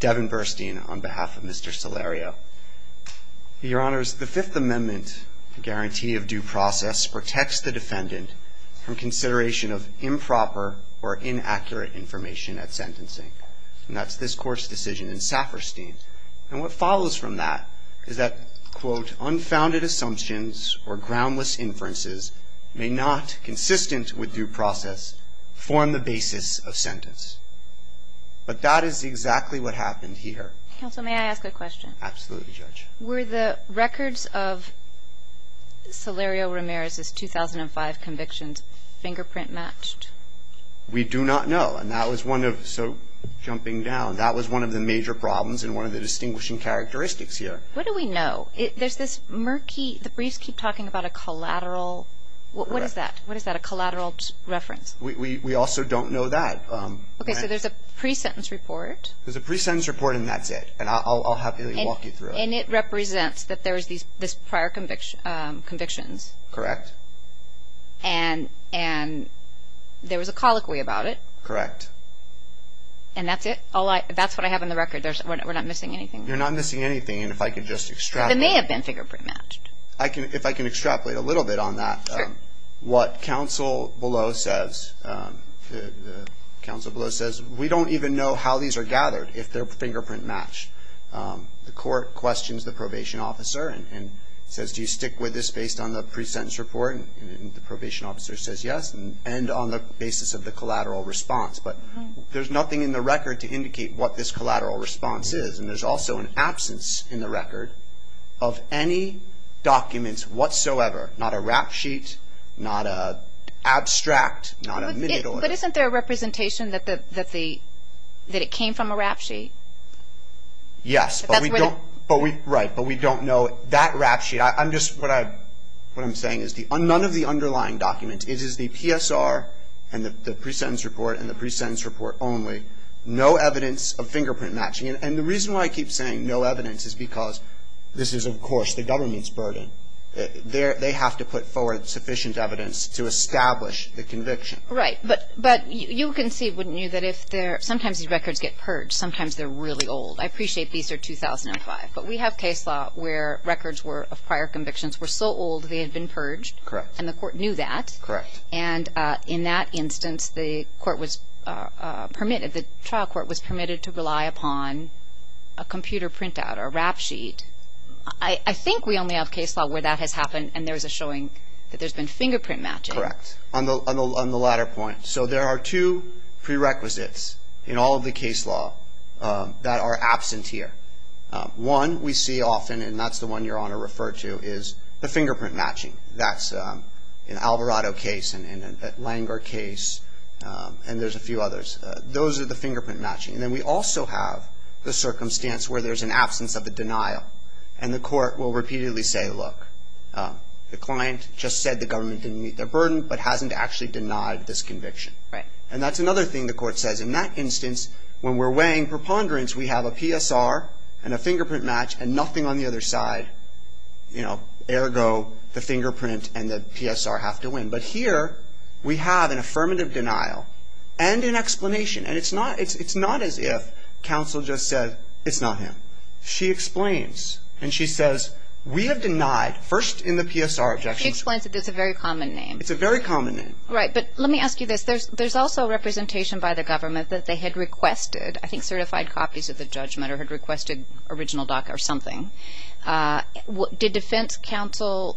Devin Burstein on behalf of Mr. Silerio-Ramirez, the Fifth Amendment, a guarantee of due process protects the defendant from consideration of improper or inaccurate information at sentencing. And that's this court's decision in Safferstein. And what follows from that is that, quote, unfounded assumptions or groundless inferences may not, consistent with due process, form the basis of sentence. But that is exactly what happened here. Counsel, may I ask a question? Absolutely, Judge. Were the records of Silerio-Ramirez's 2005 convictions fingerprint matched? We do not know. And that was one of, so jumping down, that was one of the major problems and one of the distinguishing characteristics here. What do we know? There's this murky, the briefs keep talking about a collateral, what is that? What is that, a collateral reference? We also don't know that. Okay, so there's a pre-sentence report. There's a pre-sentence report and that's it. And I'll happily walk you through it. And it represents that there's these prior convictions. Correct. And there was a colloquy about it. Correct. And that's it? That's what I have in the record? We're not missing anything? You're not missing anything. And if I could just extrapolate. They may have been fingerprint matched. If I can extrapolate a little bit on that, what counsel below says, counsel below says, we don't even know how these are gathered if they're fingerprint matched. The court questions the probation officer and says, do you stick with this based on the pre-sentence report? And the probation officer says yes, and on the basis of the collateral response. But there's nothing in the record to indicate what this collateral response is. And there's also an absence in the record of any documents whatsoever, not a rap sheet, not an abstract, not a minute order. But isn't there a representation that it came from a rap sheet? Yes, but we don't know that rap sheet. I'm just, what I'm saying is none of the underlying documents. It is the PSR and the pre-sentence report and the pre-sentence report only. No evidence of fingerprint matching. And the reason why I keep saying no evidence is because this is, of course, the government's burden. They have to put forward sufficient evidence to establish the conviction. Right, but you can see, wouldn't you, that if they're, sometimes these records get purged. Sometimes they're really old. I appreciate these are 2005, but we have case law where records were of prior convictions were so old they had been purged and the court knew that. And in that instance, the court was permitted, the trial court was permitted to rely upon a computer printout, a rap sheet. I think we only have case law where that has happened and there's a showing that there's been fingerprint matching. Correct, on the latter point. So there are two prerequisites in all of the case law that are absent here. One we see often, and that's the one your Honor referred to, is the fingerprint matching. That's in Alvarado case and in Langer case and there's a few others. Those are the fingerprint matching. And then we also have the circumstance where there's an absence of a denial and the court will repeatedly say, look, the client just said the government didn't meet their burden but hasn't actually denied this conviction. And that's another thing the court says. In that instance, when we're weighing preponderance, we have a PSR and a fingerprint match and nothing on the other side, you know, ergo the fingerprint and the PSR have to win. But here we have an affirmative denial and an explanation and it's not, it's not as if counsel just said it's not him. She explains and she says, we have denied, first in the PSR objections. She explains that it's a very common name. It's a very common name. Right, but let me ask you this. There's also a representation by the government that they had requested, I think certified copies of the judgment or had requested original DACA or something. Did defense counsel...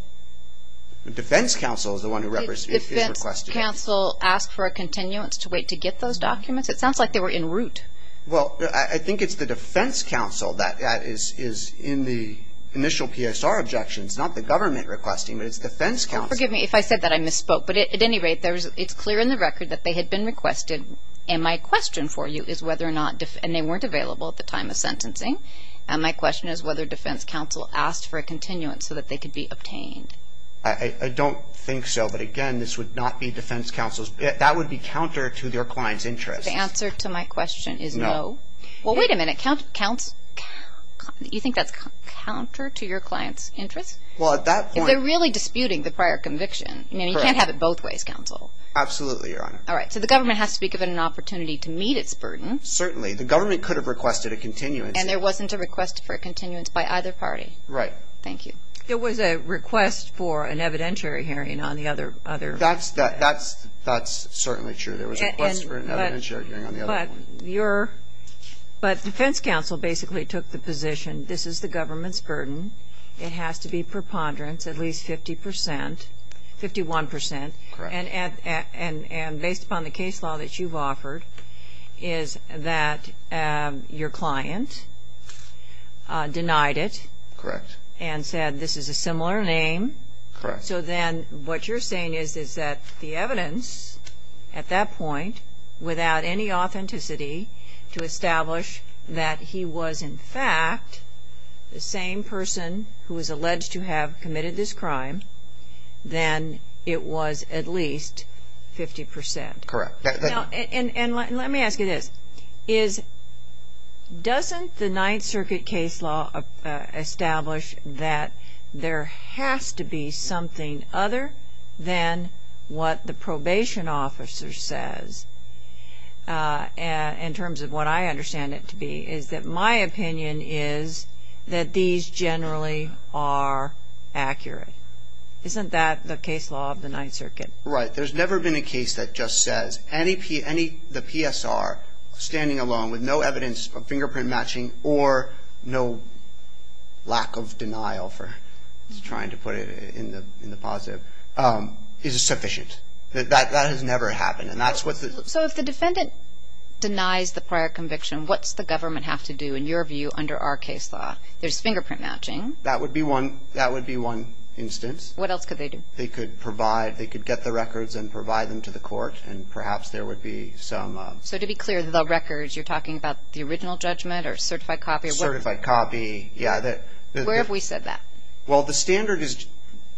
Defense counsel is the one who requested it. Did defense counsel ask for a continuance to wait to get those documents? It sounds like they were in route. Well, I think it's the defense counsel that is in the initial PSR objections, not the government requesting, but it's defense counsel. Forgive me if I said that I misspoke, but at any rate, there's, it's clear in the record that they had been requested. And my question for you is whether or not, and they weren't available at the time of sentencing. And my question is whether defense counsel asked for a continuance so that they could be obtained. I don't think so. But again, this would not be defense counsel's, that would be counter to their client's interest. The answer to my question is no. Well, wait a minute. Count, counts, you think that's counter to your client's interest? Well, at that point... If they're really disputing the prior conviction, I mean, you can't have it both ways, counsel. Absolutely, Your Honor. All right. So the government has to be given an opportunity to meet its burden. Certainly. The government could have requested a continuance. And there wasn't a request for a continuance by either party. Right. Thank you. There was a request for an evidentiary hearing on the other, other... That's, that's, certainly true. There was a request for an evidentiary hearing on the other one. But your, but defense counsel basically took the position, this is the government's burden. It has to be preponderance, at least 50 percent, 51 percent. Correct. And, and, and, and based upon the case law that you've offered, is that your client denied it. Correct. And said this is a similar name. Correct. So then what you're saying is, is that the evidence at that point, without any authenticity, to establish that he was, in fact, the same person who was alleged to have committed this crime, then it was at least 50 percent. Correct. Now, and, and let me ask you this. Is, doesn't the Ninth Circuit case law establish that there has to be something other than what the probation officer says, in terms of what I understand it to be, is that my opinion is that these generally are accurate. Isn't that the case law of the Ninth Circuit? That the NISR, standing alone with no evidence of fingerprint matching or no lack of denial for, trying to put it in the, in the positive, is sufficient. That, that has never happened. And that's what the... So if the defendant denies the prior conviction, what's the government have to do, in your view, under our case law? There's fingerprint matching. That would be one, that would be one instance. What else could they do? They could provide, they could get the records and provide them to the court, and perhaps there would be some... So to be clear, the records, you're talking about the original judgment or certified copy? Certified copy, yeah. Where have we said that? Well, the standard is,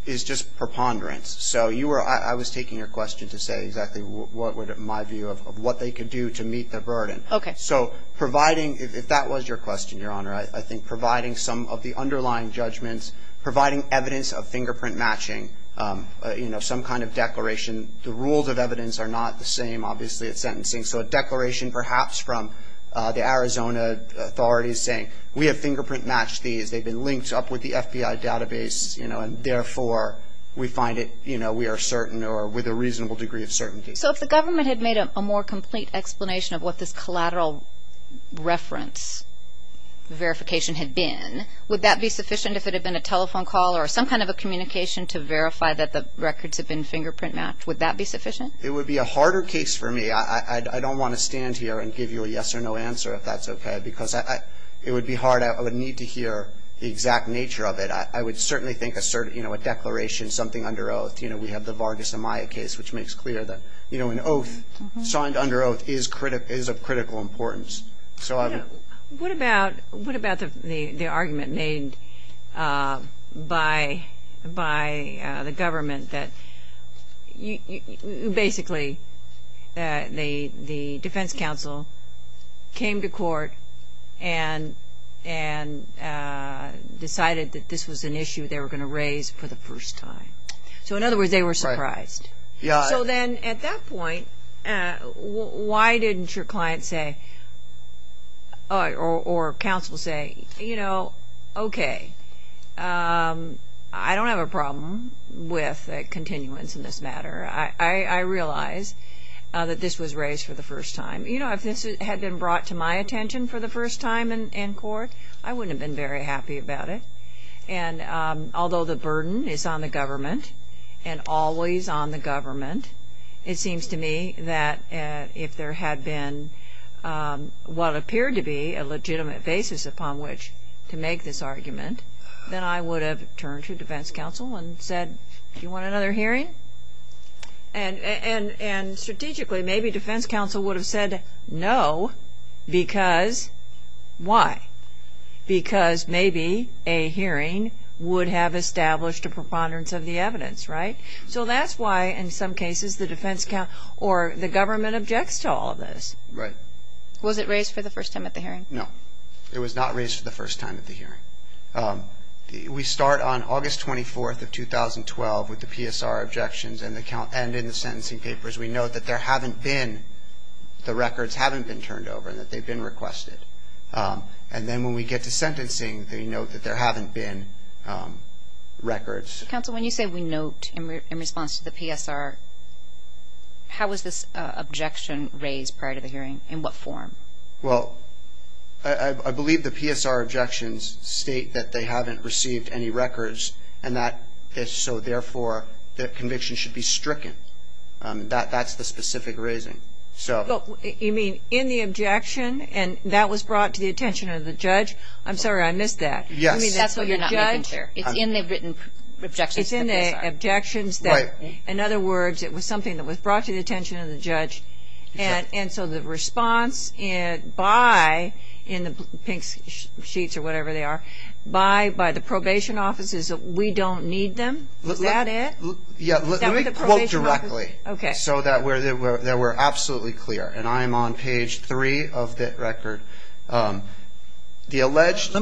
is just preponderance. So you were, I was taking your question to say exactly what would, in my view, of what they could do to meet the burden. Okay. So providing, if that was your question, Your Honor, I think providing some of the underlying judgments, providing evidence of fingerprint matching, you know, some kind of declaration. The rules of evidence are not the same, obviously, at sentencing. So a declaration, perhaps, from the Arizona authorities saying, we have fingerprint matched these, they've been linked up with the FBI database, you know, and therefore, we find it, you know, we are certain or with a reasonable degree of certainty. So if the government had made a more complete explanation of what this collateral reference verification had been, would that be sufficient if it had been a telephone call or some kind of a communication to verify that the records had been fingerprint matched? Would that be sufficient? It would be a harder case for me. I don't want to stand here and give you a yes or no answer, if that's okay, because it would be hard. I would need to hear the exact nature of it. I would certainly think a certain, you know, a declaration, something under oath. You know, we have the Vargas Amaya case, which makes clear that, you know, an oath signed under oath is of critical importance. So I would. What about, what about the argument made by the government that, basically, the defense counsel came to court and decided that this was an issue they were going to raise for the first time? So in other words, they were surprised. So then, at that point, why didn't your client say, or counsel say, you know, okay, I don't have a problem with a continuance in this matter. I realize that this was raised for the first time. You know, if this had been brought to my attention for the first time in court, I wouldn't have been very happy about it. And although the burden is on the government, and always on the government, it seems to me that if there had been what appeared to be a legitimate basis upon which to make this argument, then I would have turned to defense counsel and said, do you want another hearing? And strategically, maybe defense counsel would have said no, because why? Because maybe a hearing would have established a preponderance of the evidence, right? So that's why, in some cases, the defense counsel or the government objects to all of this. Right. Was it raised for the first time at the hearing? No. It was not raised for the first time at the hearing. We start on August 24th of 2012 with the PSR objections, and in the sentencing papers, we note that there haven't been, the records haven't been turned over, and that they've been requested. And then when we get to sentencing, they note that there haven't been records. Counsel, when you say we note, in response to the PSR, how was this objection raised prior to the hearing? In what form? Well, I believe the PSR objections state that they haven't received any records, and that so therefore, the conviction should be stricken. That's the specific raising. You mean, in the objection, and that was brought to the attention of the judge? I'm sorry, I missed that. Yes. I mean, that's what you're not making clear. It's in the written objections to the PSR. It's in the objections that, in other words, it was something that was brought to the attention of the judge, and so the response by, in the pink sheets or whatever they are, by the probation offices, we don't need them? Is that it? Yeah, let me quote directly, so that we're absolutely clear. And I'm on page three of the record. The alleged...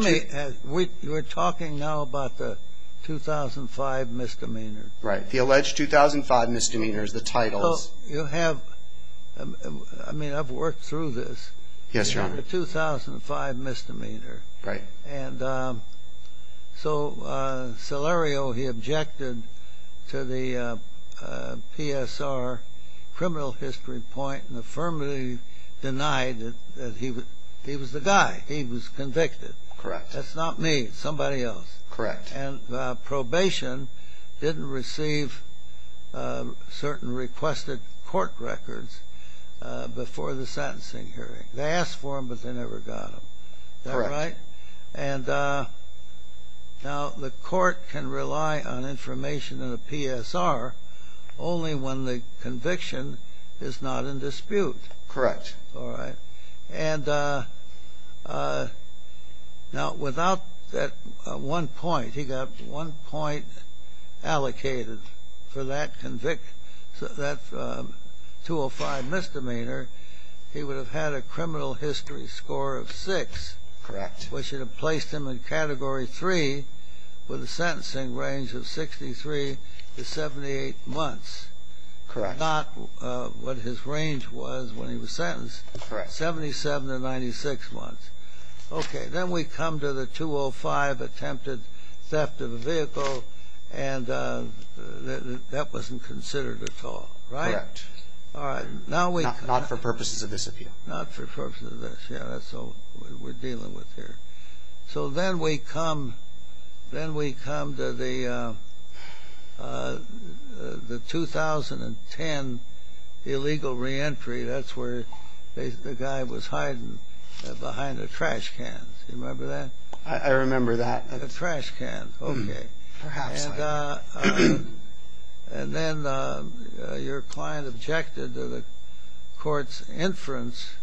You're talking now about the 2005 misdemeanor. Right. The alleged 2005 misdemeanor is the title. So you have, I mean, I've worked through this. Yes, Your Honor. The 2005 misdemeanor. Right. And so, Salerio, he objected to the PSR criminal history point, and affirmatively denied that he was the guy. He was convicted. Correct. That's not me. It's somebody else. Correct. And probation didn't receive certain requested court records before the sentencing hearing. They asked for them, but they never got them. Correct. Is that right? And now the court can rely on information in a PSR only when the conviction is not in dispute. Correct. All right. And now without that one point, he got one point allocated for that 205 misdemeanor, he would have had a criminal history score of six. Correct. Which would have placed him in Category 3 with a sentencing range of 63 to 78 months. Correct. Which was not what his range was when he was sentenced. Correct. 77 to 96 months. Okay. Then we come to the 205 attempted theft of a vehicle, and that wasn't considered at all. Right? Correct. All right. Now we... Not for purposes of this appeal. Not for purposes of this. Yeah, that's what we're dealing with here. So then we come to the 2010 illegal reentry. That's where the guy was hiding behind a trash can. Do you remember that? I remember that. A trash can. Okay. Perhaps I do. And then your client objected to the court's inference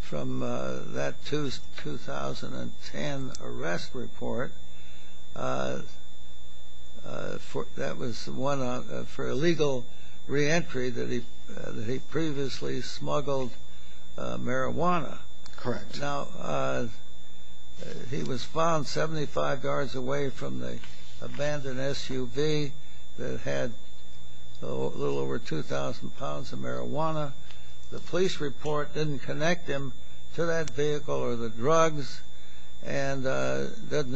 from that 2010 arrest report that was one for illegal reentry that he previously smuggled marijuana. Correct. Now, he was found 75 yards away from the abandoned SUV that had a little over 2,000 pounds of marijuana. The police report didn't connect him to that vehicle or the drugs and didn't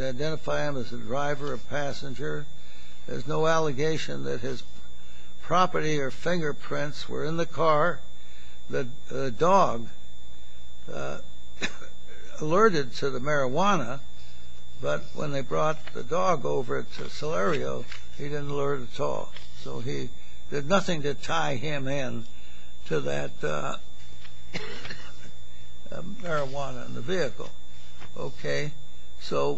identify him as a driver or passenger. There's no allegation that his property or fingerprints were in the car. The dog alerted to the marijuana, but when they brought the dog over to Celerio, he didn't alert at all. So he... There's nothing to tie him in to that marijuana in the vehicle. Okay. So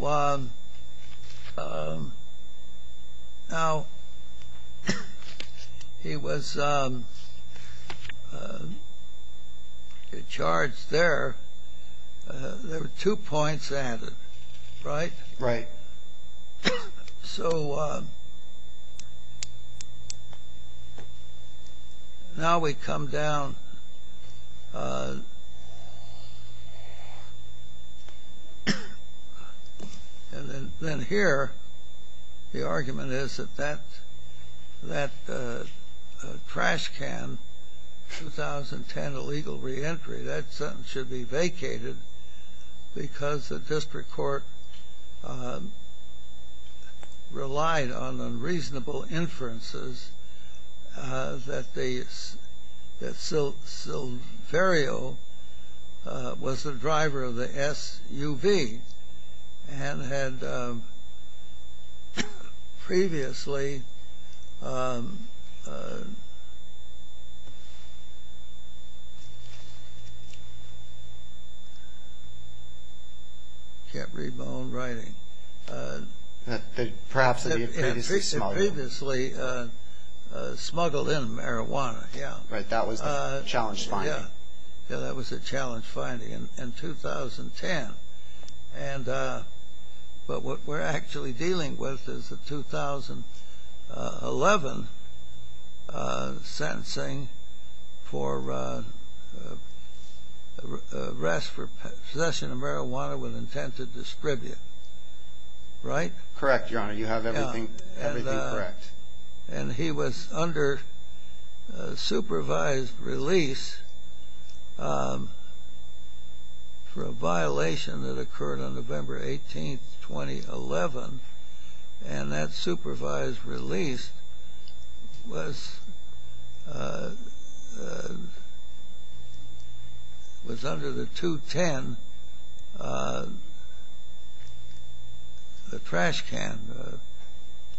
now he was charged there. There were two points added, right? Right. So now we come down to the 2010 arrest report. And then here, the argument is that that trash can, 2010 illegal reentry, that sentence should be vacated because the district court relied on unreasonable inferences that Silverio was the SUV and had previously... I can't read my own writing. That perhaps he had previously smuggled. Had previously smuggled in marijuana, yeah. Right. That was the challenge finding. Yeah. Yeah, that was the challenge finding in 2010. But what we're actually dealing with is the 2011 sentencing for arrest for possession of marijuana with intent to distribute, right? Correct, Your Honor. You have everything correct. And he was under supervised release for a violation that occurred on November 18, 2011. And that supervised release was under the 2010, the trash can.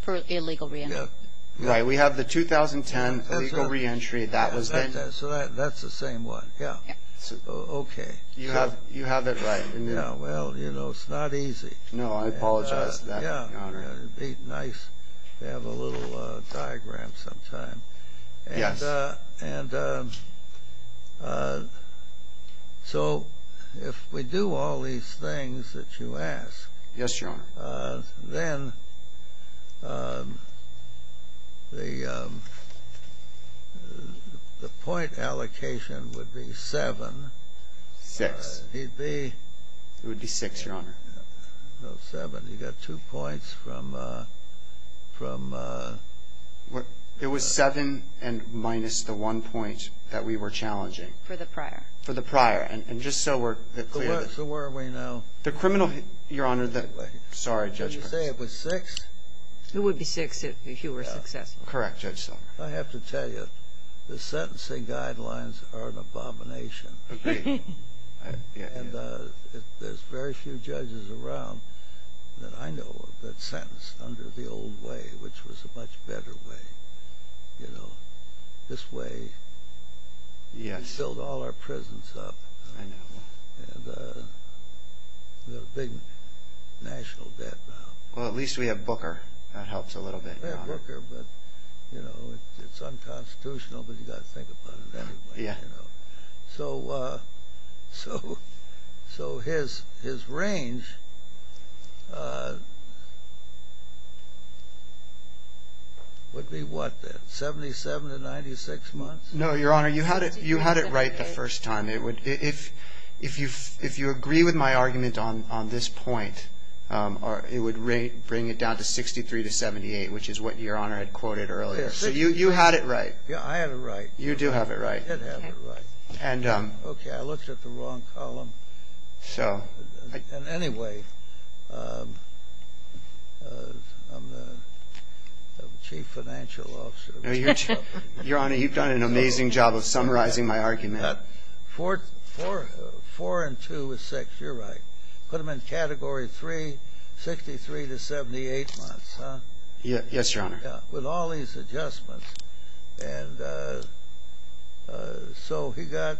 For illegal reentry. Right. We have the 2010 illegal reentry. That was then. So that's the same one. Yeah. Okay. You have it right. Well, you know, it's not easy. No, I apologize for that, Your Honor. Yeah, it'd be nice to have a little diagram sometime. Yes. So if we do all these things that you ask... Yes, Your Honor. Then the point allocation would be seven. Six. It would be... It would be six, Your Honor. No, seven. You got two points from... It was seven minus the one point that we were challenging. For the prior. For the prior. And just so we're clear... So where are we now? The criminal... Your Honor, the... Sorry, Judge. You say it was six? It would be six if you were successful. Correct, Judge Silver. I have to tell you, the sentencing guidelines are an abomination. Agreed. And there's very few judges around that I know that sentence under the old way, which was a much better way. You know, this way... Yes. We filled all our prisons up. I know. And we have a big national debt now. Well, at least we have Booker. That helps a little bit, Your Honor. We have Booker, but, you know, it's unconstitutional, but you've got to think about it anyway. Yeah. So his range would be what then? 77 to 96 months? No, Your Honor. You had it right the first time. If you agree with my argument on this point, it would bring it down to 63 to 78, which is what Your Honor had quoted earlier. So you had it right. Yeah, I had it right. You do have it right. I did have it right. Okay. I looked at the wrong column. So... Anyway, I'm the Chief Financial Officer. Your Honor, you've done an amazing job of summarizing my argument. Four and two is six. You're right. Put them in Category 3, 63 to 78 months, huh? Yes, Your Honor. Yeah, with all these adjustments. And so he got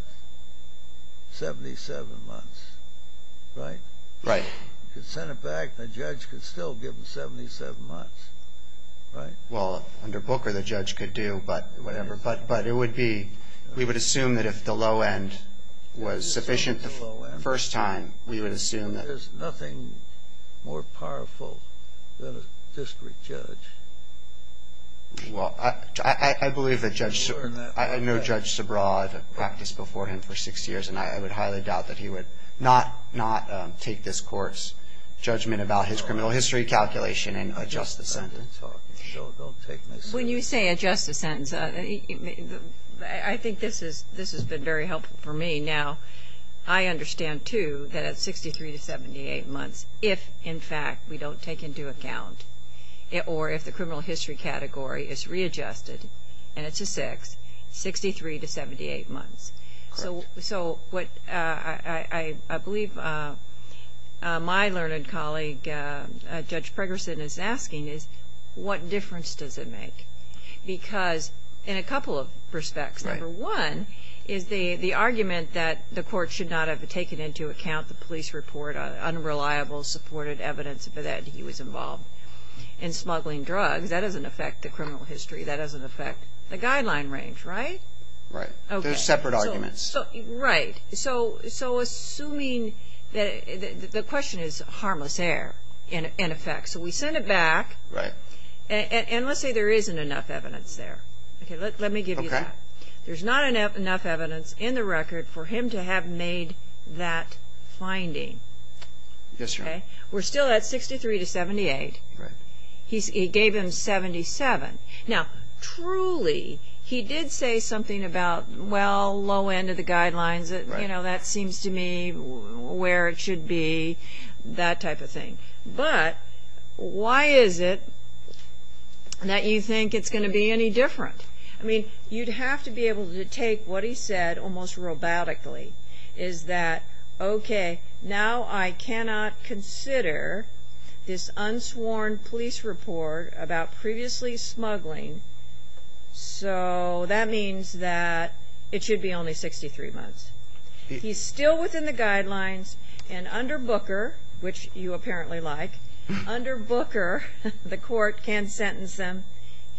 77 months, right? Right. You could send it back. The judge could still give him 77 months, right? Well, under Booker, the judge could do whatever, but it would be we would assume that if the low end was sufficient the first time, we would assume that... There's nothing more powerful than a discreet judge. Well, I believe that Judge Sobraw had practiced before him for six years, and I would highly doubt that he would not take this court's judgment about his criminal history calculation and adjust the sentence. When you say adjust the sentence, I think this has been very helpful for me. Now, I understand, too, that it's 63 to 78 months if, in fact, we don't take into account or if the criminal history category is readjusted, and it's a six, 63 to 78 months. Correct. So what I believe my learned colleague, Judge Pregerson, is asking is what difference does it make? Because in a couple of respects, number one is the argument that the court should not have taken into account the police report, unreliable supported evidence that he was involved in smuggling drugs. That doesn't affect the criminal history. That doesn't affect the guideline range, right? Right. They're separate arguments. Right. So assuming that the question is harmless error, in effect. So we send it back. Right. And let's say there isn't enough evidence there. Okay. Let me give you that. Okay. There's not enough evidence in the record for him to have made that finding. Yes, Your Honor. Okay? We're still at 63 to 78. Right. He gave him 77. Now, truly, he did say something about, well, low end of the guidelines. You know, that seems to me where it should be, that type of thing. But why is it that you think it's going to be any different? I mean, you'd have to be able to take what he said almost robotically, is that, okay, now I cannot consider this unsworn police report about previously smuggling, so that means that it should be only 63 months. He's still within the guidelines. And under Booker, which you apparently like, under Booker, the court can sentence him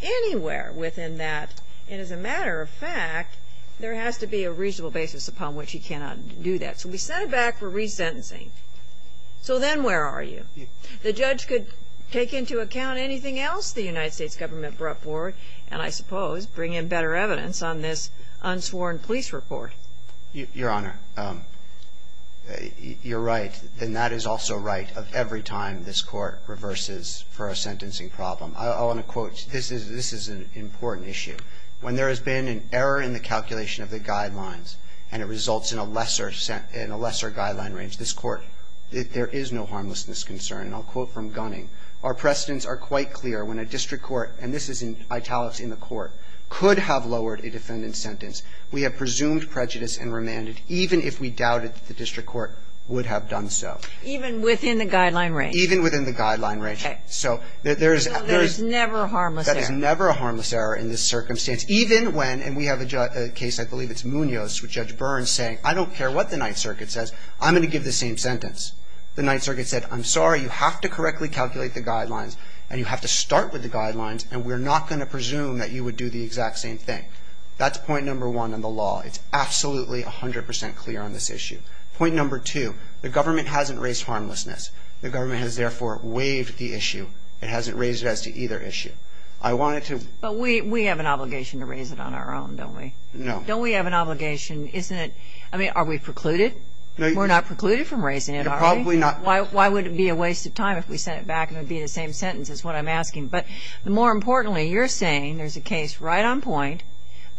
anywhere within that. And as a matter of fact, there has to be a reasonable basis upon which he cannot do that. So we send it back for resentencing. So then where are you? The judge could take into account anything else the United States government brought forward and, I suppose, bring in better evidence on this unsworn police report. Your Honor, you're right. And that is also right of every time this court reverses for a sentencing problem. I want to quote. This is an important issue. When there has been an error in the calculation of the guidelines, and it results in a lesser guideline range, this court, there is no harmlessness concern. And I'll quote from Gunning. Our precedents are quite clear when a district court, and this is in italics in the court, could have lowered a defendant's sentence. We have presumed prejudice and remanded, even if we doubted the district court would have done so. Even within the guideline range? Even within the guideline range. Okay. So there is never a harmless error. There is never a harmless error in this circumstance, even when, and we have a case, I believe it's Munoz with Judge Burns saying, I don't care what the Ninth Circuit says, I'm going to give the same sentence. The Ninth Circuit said, I'm sorry, you have to correctly calculate the guidelines and you have to start with the guidelines, and we're not going to presume that you would do the exact same thing. That's point number one on the law. It's absolutely 100% clear on this issue. Point number two, the government hasn't raised harmlessness. The government has, therefore, waived the issue. It hasn't raised it as to either issue. I wanted to. But we have an obligation to raise it on our own, don't we? No. Don't we have an obligation? Isn't it, I mean, are we precluded? We're not precluded from raising it, are we? You're probably not. Why would it be a waste of time if we sent it back and it would be the same sentence, is what I'm asking. But more importantly, you're saying there's a case right on point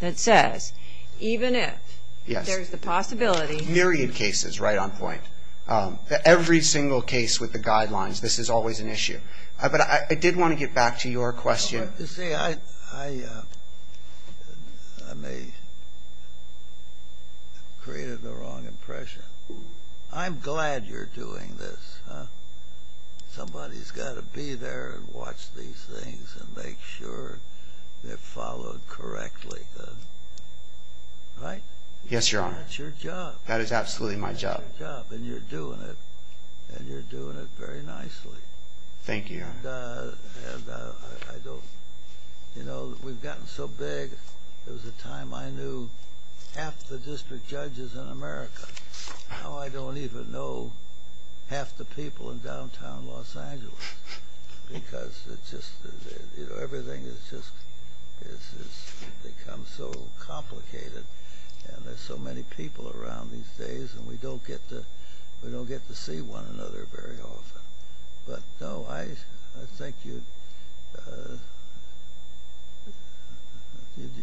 that says, even if there's the possibility. Yes. Myriad cases right on point. Every single case with the guidelines, this is always an issue. But I did want to get back to your question. You see, I may have created the wrong impression. I'm glad you're doing this. Somebody's got to be there and watch these things and make sure they're followed correctly. Right? Yes, Your Honor. That's your job. That is absolutely my job. And you're doing it. And you're doing it very nicely. Thank you, Your Honor. And I don't, you know, we've gotten so big. There was a time I knew half the district judges in America. Now I don't even know half the people in downtown Los Angeles because it's just, you know, everything has just become so complicated and there's so many people around these days and we don't get to see one another very often. But, no, I think you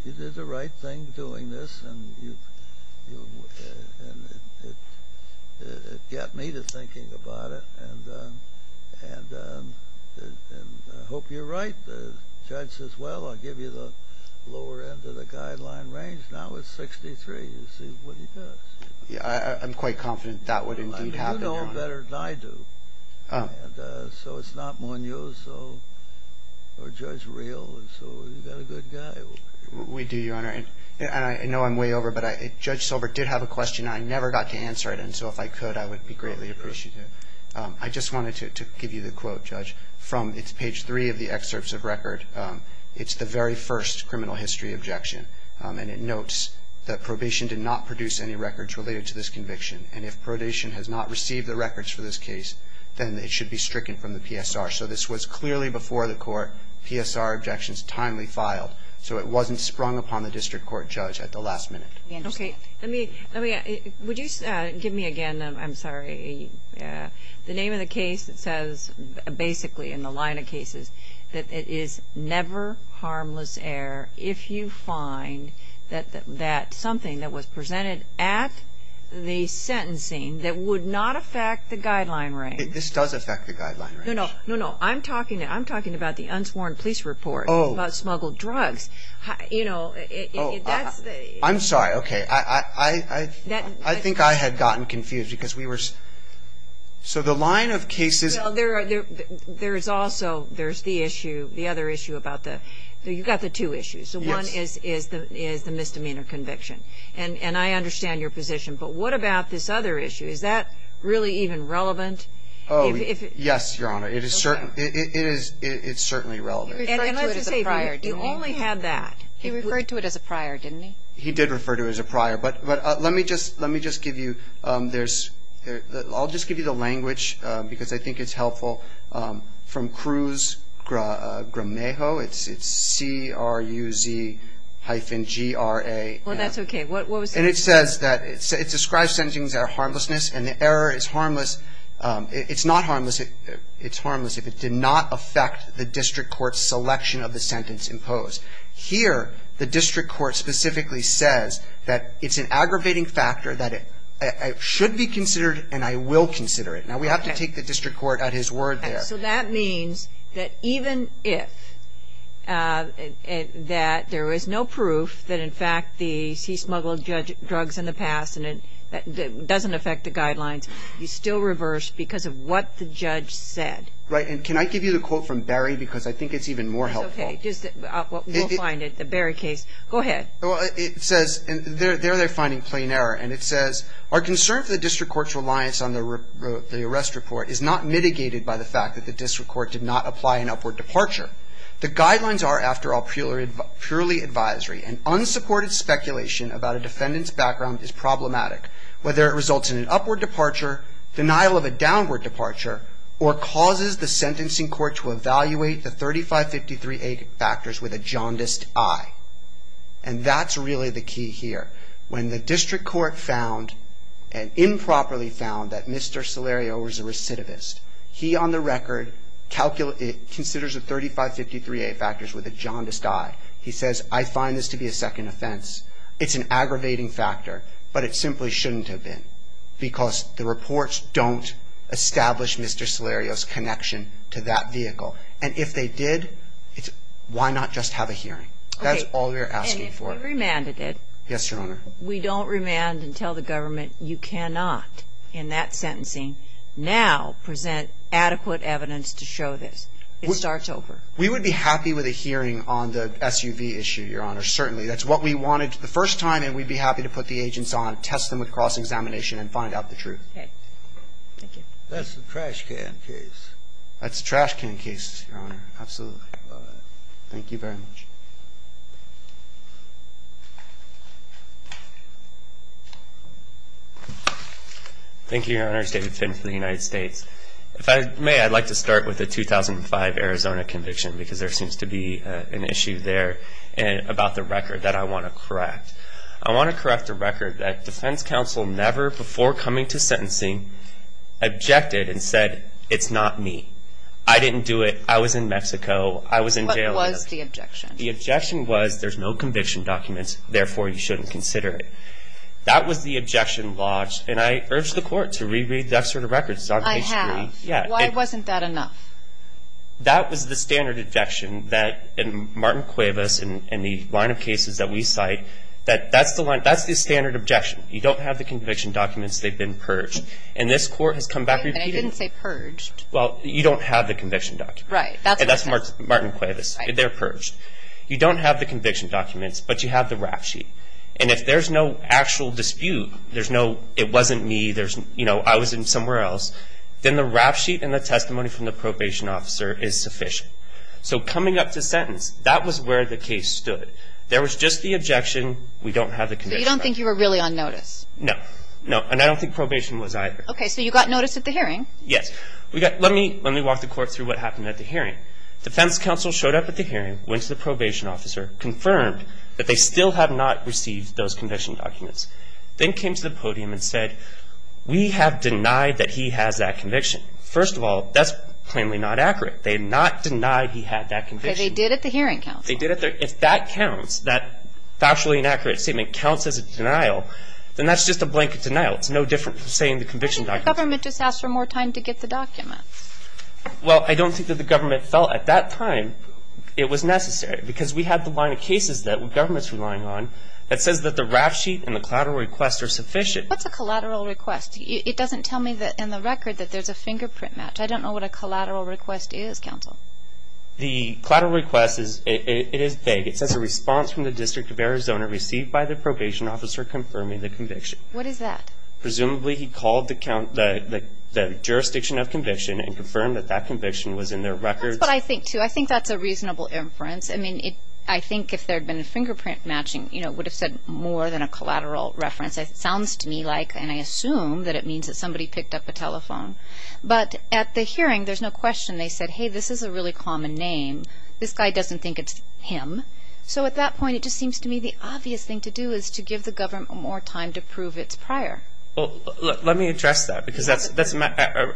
did the right thing doing this and it got me to thinking about it and I hope you're right. The judge says, well, I'll give you the lower end of the guideline range. Now it's 63. You see what he does. You know him better than I do. So it's not Munoz or Judge Real. So you've got a good guy. We do, Your Honor. And I know I'm way over, but Judge Silbert did have a question. I never got to answer it. And so if I could, I would be greatly appreciative. I just wanted to give you the quote, Judge, from page three of the excerpts of record. It's the very first criminal history objection. And it notes that probation did not produce any records related to this conviction and if probation has not received the records for this case, then it should be stricken from the PSR. So this was clearly before the court. PSR objections timely filed. So it wasn't sprung upon the district court judge at the last minute. Okay. Let me ask you, would you give me again, I'm sorry, the name of the case that says basically in the line of cases that it is never harmless error if you find that something that was presented at the sentencing that would not affect the guideline range. This does affect the guideline range. No, no. I'm talking about the unsworn police report. Oh. About smuggled drugs. You know, that's the. I'm sorry. Okay. I think I had gotten confused because we were. So the line of cases. There is also, there's the issue, the other issue about the, you've got the two issues. Yes. So one is the misdemeanor conviction. And I understand your position. But what about this other issue? Is that really even relevant? Oh, yes, Your Honor. It is certainly relevant. He referred to it as a prior, didn't he? He only had that. He referred to it as a prior, didn't he? He did refer to it as a prior. But let me just give you, there's, I'll just give you the language because I think it's helpful. From Cruz Gramejo. It's C-R-U-Z hyphen G-R-A. Well, that's okay. And it says that, it describes sentencings that are harmlessness. And the error is harmless. It's not harmless. It's harmless if it did not affect the district court's selection of the sentence imposed. Here, the district court specifically says that it's an aggravating factor, that it should be considered and I will consider it. Now, we have to take the district court at his word there. So that means that even if that there is no proof that, in fact, he smuggled drugs in the past and it doesn't affect the guidelines, you still reverse because of what the judge said. Right. And can I give you the quote from Barry because I think it's even more helpful. It's okay. We'll find it. The Barry case. Go ahead. It says, there they're finding plain error. And it says, our concern for the district court's reliance on the arrest report is not mitigated by the fact that the district court did not apply an upward departure. The guidelines are, after all, purely advisory. And unsupported speculation about a defendant's background is problematic, whether it results in an upward departure, denial of a downward departure, or causes the sentencing court to evaluate the 3553A factors with a jaundiced eye. And that's really the key here. When the district court found and improperly found that Mr. Solerio was a recidivist, he, on the record, considers the 3553A factors with a jaundiced eye. He says, I find this to be a second offense. It's an aggravating factor, but it simply shouldn't have been because the reports don't establish Mr. Solerio's connection to that vehicle. And if they did, why not just have a hearing? That's all we're asking for. Okay. And if we remanded it. Yes, Your Honor. We don't remand and tell the government, you cannot, in that sentencing, now present adequate evidence to show this. It starts over. We would be happy with a hearing on the SUV issue, Your Honor, certainly. That's what we wanted the first time, and we'd be happy to put the agents on, test them with cross-examination, and find out the truth. Okay. Thank you. That's the trash can case. That's the trash can case, Your Honor. Absolutely. Thank you very much. Thank you, Your Honors. David Finn for the United States. If I may, I'd like to start with the 2005 Arizona conviction because there seems to be an issue there about the record that I want to correct. I want to correct the record that defense counsel never, before coming to sentencing, objected and said, it's not me. I didn't do it. I was in Mexico. I was in jail. What was the objection? The objection was, there's no conviction documents, therefore you shouldn't consider it. That was the objection lodged, and I urge the court to reread that sort of record. I have. Why wasn't that enough? That was the standard objection that Martin Cuevas and the line of cases that we cite, that's the standard objection. You don't have the conviction documents. They've been purged. And this court has come back repeating it. I didn't say purged. Well, you don't have the conviction documents. Right. That's what I said. That's Martin Cuevas. They're purged. You don't have the conviction documents, but you have the rap sheet. And if there's no actual dispute, there's no, it wasn't me, I was in somewhere else, then the rap sheet and the testimony from the probation officer is sufficient. So coming up to sentence, that was where the case stood. There was just the objection, we don't have the conviction documents. So you don't think you were really on notice? No. No. And I don't think probation was either. Okay. So you got notice at the hearing. Yes. Let me walk the court through what happened at the hearing. Defense counsel showed up at the hearing, went to the probation officer, confirmed that they still have not received those conviction documents, then came to the podium and said, we have denied that he has that conviction. First of all, that's plainly not accurate. They did not deny he had that conviction. Okay, they did at the hearing counsel. They did at their, if that counts, that factually inaccurate statement counts as a denial, then that's just a blanket denial. It's no different from saying the conviction documents. I think the government just asked for more time to get the documents. Well, I don't think that the government felt at that time it was necessary because we have the line of cases that the government's relying on that says that the rap sheet and the collateral request are sufficient. What's a collateral request? It doesn't tell me in the record that there's a fingerprint match. I don't know what a collateral request is, counsel. The collateral request, it is vague. It says a response from the District of Arizona received by the probation officer confirming the conviction. What is that? Presumably he called the jurisdiction of conviction and confirmed that that conviction was in their records. That's what I think, too. I think that's a reasonable inference. I mean, I think if there had been a fingerprint matching, it would have said more than a collateral reference. It sounds to me like, and I assume, that it means that somebody picked up a telephone. But at the hearing, there's no question they said, hey, this is a really common name. This guy doesn't think it's him. So at that point, it just seems to me the obvious thing to do is to give the government more time to prove it's prior. Well, let me address that because that's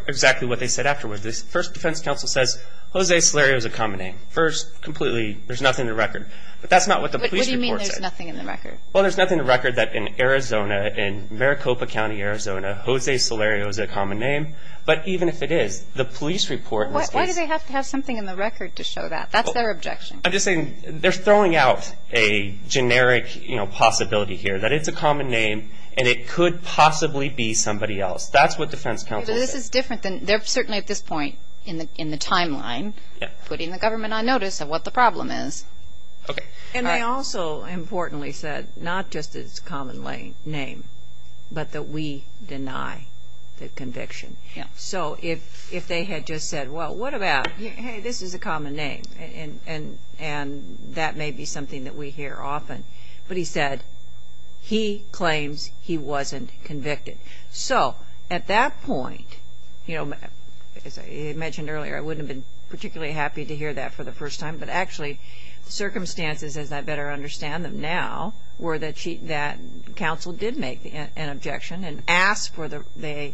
exactly what they said afterwards. The first defense counsel says, Jose Solario is a common name. First, completely, there's nothing in the record. But that's not what the police report said. What do you mean there's nothing in the record? Well, there's nothing in the record that in Arizona, in Maricopa County, Arizona, Jose Solario is a common name. But even if it is, the police report in this case. Why do they have to have something in the record to show that? That's their objection. I'm just saying they're throwing out a generic possibility here that it's a common name and it could possibly be somebody else. That's what defense counsel said. But this is different than, certainly at this point in the timeline, putting the government on notice of what the problem is. Okay. And they also, importantly, said not just that it's a common name, but that we deny the conviction. So if they had just said, well, what about, hey, this is a common name, and that may be something that we hear often. But he said he claims he wasn't convicted. So at that point, as I mentioned earlier, I wouldn't have been particularly happy to hear that for the first time, but actually the circumstances, as I better understand them now, were that counsel did make an objection and asked for the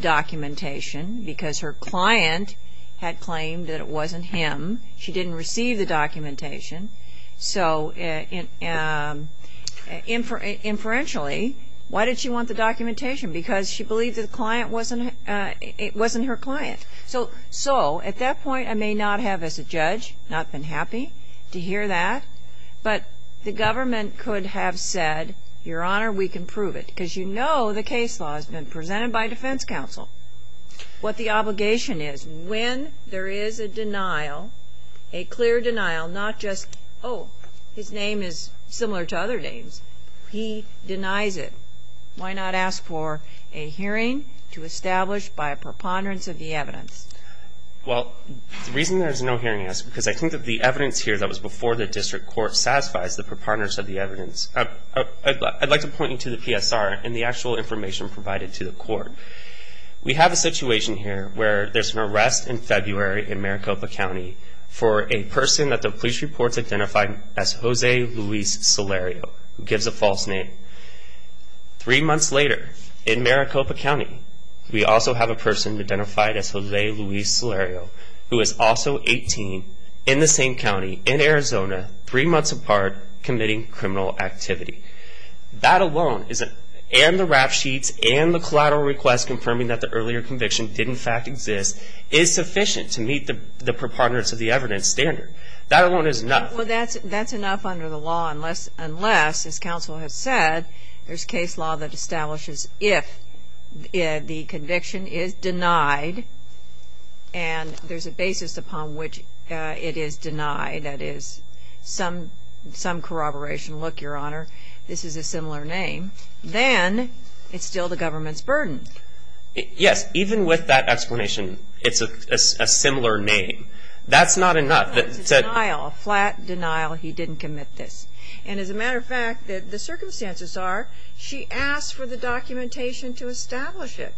documentation because her client had claimed that it wasn't him. She didn't receive the documentation. So inferentially, why did she want the documentation? Because she believed it wasn't her client. So at that point, I may not have, as a judge, not been happy to hear that. But the government could have said, Your Honor, we can prove it because you know the case law has been presented by defense counsel. What the obligation is, when there is a denial, a clear denial, not just, oh, his name is similar to other names. He denies it. Why not ask for a hearing to establish by a preponderance of the evidence? Well, the reason there is no hearing asked is because I think that the evidence here that was before the district court satisfies the preponderance of the evidence. I'd like to point you to the PSR and the actual information provided to the court. We have a situation here where there's an arrest in February in Maricopa County for a person that the police reports identified as Jose Luis Salerio, who gives a false name. Three months later, in Maricopa County, we also have a person identified as Jose Luis Salerio, who is also 18, in the same county, in Arizona, three months apart, committing criminal activity. That alone, and the rap sheets and the collateral request confirming that the earlier conviction did, in fact, exist, is sufficient to meet the preponderance of the evidence standard. That alone is enough. Well, that's enough under the law unless, as counsel has said, there's case law that establishes if the conviction is denied and there's a basis upon which it is denied, that is some corroboration, look, Your Honor, this is a similar name, then it's still the government's burden. Yes, even with that explanation, it's a similar name. That's not enough. It's a denial, a flat denial, he didn't commit this. And as a matter of fact, the circumstances are, she asked for the documentation to establish it.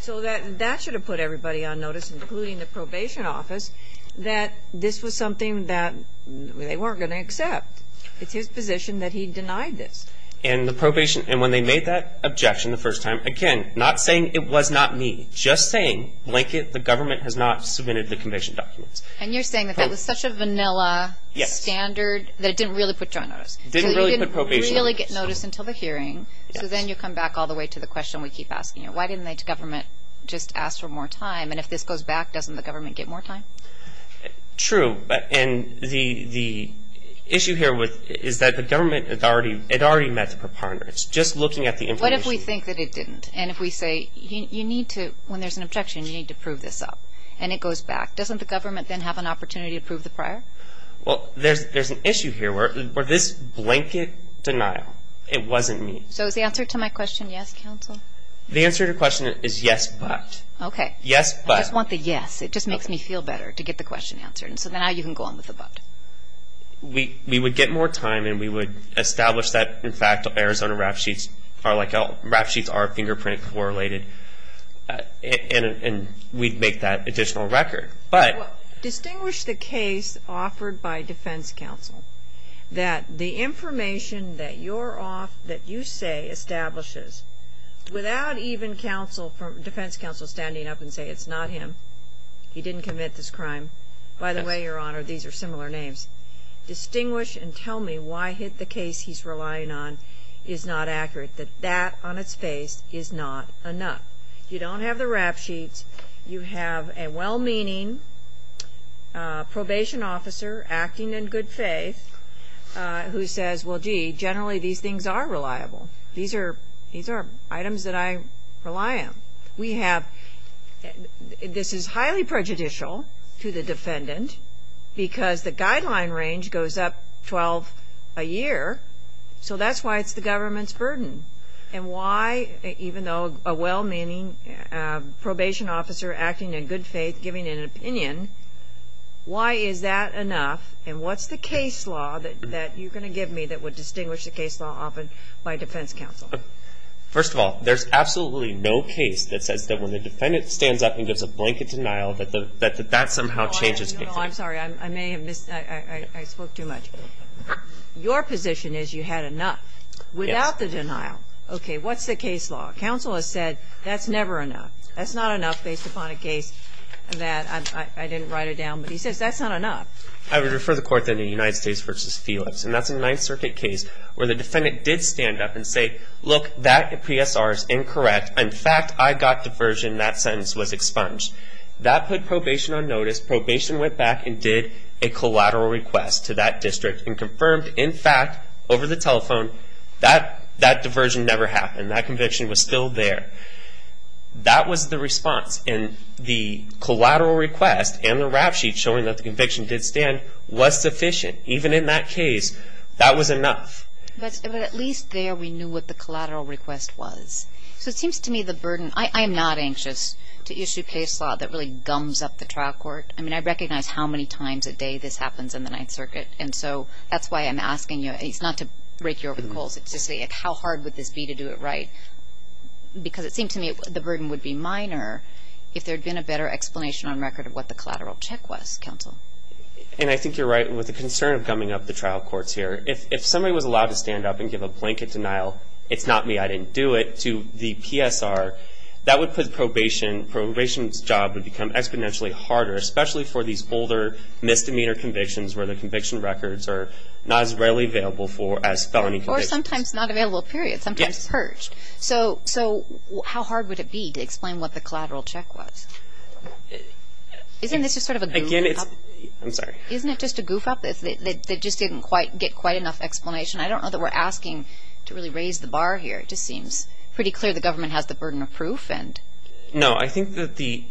So that should have put everybody on notice, including the probation office, that this was something that they weren't going to accept. It's his position that he denied this. And the probation, and when they made that objection the first time, again, not saying it was not me, just saying, blanket, the government has not submitted the conviction documents. And you're saying that that was such a vanilla standard that it didn't really put you on notice. It didn't really put probation on notice. So you didn't really get notice until the hearing, so then you come back all the way to the question we keep asking you. Why didn't the government just ask for more time? And if this goes back, doesn't the government get more time? True. And the issue here is that the government had already met the preponderance, just looking at the information. What if we think that it didn't? And if we say, you need to, when there's an objection, you need to prove this up, and it goes back, doesn't the government then have an opportunity to prove the prior? Well, there's an issue here where this blanket denial, it wasn't me. So is the answer to my question yes, counsel? The answer to your question is yes, but. Okay. Yes, but. I just want the yes. It just makes me feel better to get the question answered. So now you can go on with the but. We would get more time, and we would establish that, in fact, Arizona rap sheets are fingerprint correlated, and we'd make that additional record. But. Distinguish the case offered by defense counsel, that the information that you say establishes, without even defense counsel standing up and saying it's not him, he didn't commit this crime. By the way, Your Honor, these are similar names. Distinguish and tell me why the case he's relying on is not accurate, that that on its face is not enough. You don't have the rap sheets. You have a well-meaning probation officer acting in good faith who says, well, gee, generally these things are reliable. These are items that I rely on. We have, this is highly prejudicial to the defendant, because the guideline range goes up 12 a year, so that's why it's the government's burden. And why, even though a well-meaning probation officer acting in good faith, giving an opinion, why is that enough? And what's the case law that you're going to give me that would distinguish the case law offered by defense counsel? First of all, there's absolutely no case that says that when the defendant stands up and gives a blanket denial that that somehow changes things. I'm sorry. I may have missed. I spoke too much. Your position is you had enough without the denial. Okay. What's the case law? Counsel has said that's never enough. That's not enough based upon a case that I didn't write it down, but he says that's not enough. I would refer the court then to United States v. Felix, and that's a Ninth Circuit case where the defendant did stand up and say, look, that PSR is incorrect. In fact, I got diversion. That sentence was expunged. That put probation on notice. Probation went back and did a collateral request to that district and confirmed, in fact, over the telephone, that that diversion never happened. That conviction was still there. That was the response, and the collateral request and the rap sheet showing that the conviction did stand was sufficient. Even in that case, that was enough. But at least there we knew what the collateral request was. So it seems to me the burden, I am not anxious to issue case law that really gums up the trial court. I mean, I recognize how many times a day this happens in the Ninth Circuit, and so that's why I'm asking you. It's not to break your over the coals. It's to see how hard would this be to do it right, because it seems to me the burden would be minor if there had been a better explanation on record of what the collateral check was, counsel. And I think you're right with the concern of gumming up the trial courts here. If somebody was allowed to stand up and give a blanket denial, it's not me, I didn't do it, to the PSR, that would put probation, probation's job would become exponentially harder, especially for these older misdemeanor convictions where the conviction records are not as readily available for as felony convictions. Or sometimes not available, period. Sometimes purged. So how hard would it be to explain what the collateral check was? Isn't this just sort of a goof up? I'm sorry. Isn't it just a goof up that just didn't get quite enough explanation? I don't know that we're asking to really raise the bar here. It just seems pretty clear the government has the burden of proof. No, I think that the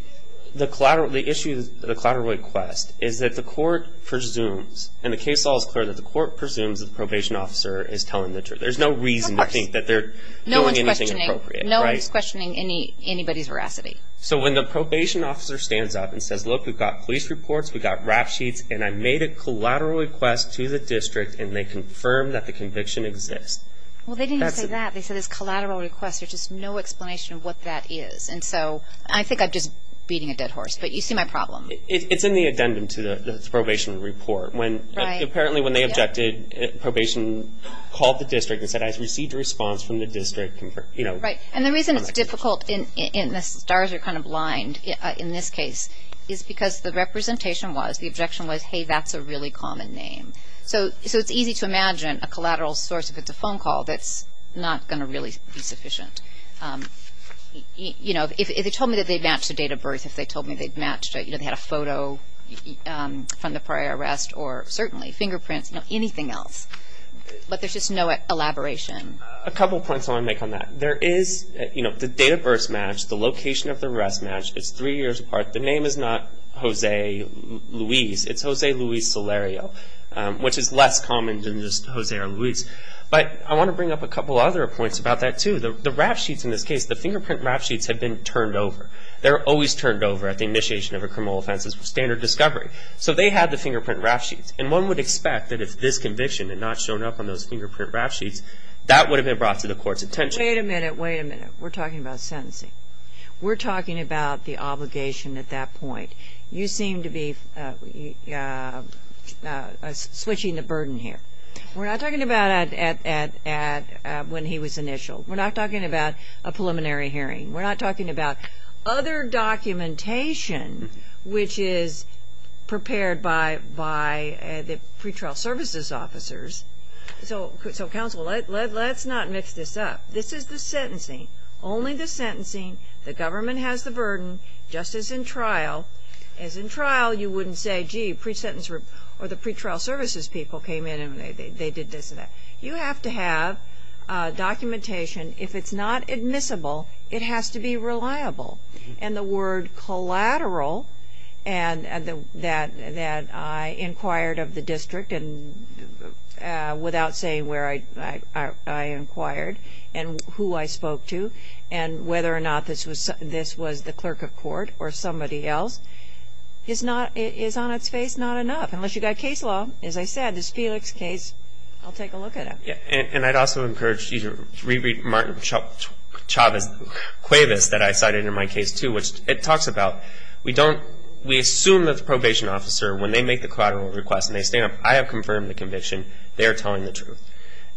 collateral, the issue of the collateral request is that the court presumes, and the case law is clear, that the court presumes that the probation officer is telling the truth. There's no reason to think that they're doing anything appropriate. No one's questioning anybody's veracity. So when the probation officer stands up and says, look, we've got police reports, we've got rap sheets, and I made a collateral request to the district, and they confirm that the conviction exists. Well, they didn't say that. They said it's a collateral request. There's just no explanation of what that is. And so I think I'm just beating a dead horse. But you see my problem. It's in the addendum to the probation report. Right. Apparently when they objected, probation called the district and said I've received a response from the district. Right. And the reason it's difficult, and the stars are kind of blind in this case, is because the representation was, the objection was, hey, that's a really common name. So it's easy to imagine a collateral source, if it's a phone call, that's not going to really be sufficient. You know, if they told me that they matched the date of birth, if they told me they matched, you know, they had a photo from the prior arrest, or certainly fingerprints, you know, anything else. But there's just no elaboration. A couple points I want to make on that. There is, you know, the date of birth's matched, the location of the arrest matched. It's three years apart. The name is not Jose Luis. It's Jose Luis Solerio, which is less common than just Jose or Luis. But I want to bring up a couple other points about that, too. The rap sheets in this case, the fingerprint rap sheets have been turned over. They're always turned over at the initiation of a criminal offense as standard discovery. So they had the fingerprint rap sheets. And one would expect that if this conviction had not shown up on those fingerprint rap sheets, that would have been brought to the court's attention. Wait a minute. Wait a minute. We're talking about sentencing. We're talking about the obligation at that point. You seem to be switching the burden here. We're not talking about when he was initialed. We're not talking about a preliminary hearing. We're not talking about other documentation which is prepared by the pretrial services officers. So, counsel, let's not mix this up. This is the sentencing. Only the sentencing. The government has the burden. Justice in trial. As in trial, you wouldn't say, gee, pre-sentence or the pretrial services people came in and they did this and that. You have to have documentation. If it's not admissible, it has to be reliable. And the word collateral that I inquired of the district without saying where I inquired and who I spoke to and whether or not this was the clerk of court or somebody else is on its face not enough. Unless you've got case law. As I said, this Felix case, I'll take a look at it. And I'd also encourage you to reread Martin Chavez that I cited in my case too, which it talks about we assume that the probation officer, when they make the collateral request and they stand up, I have confirmed the conviction, they are telling the truth.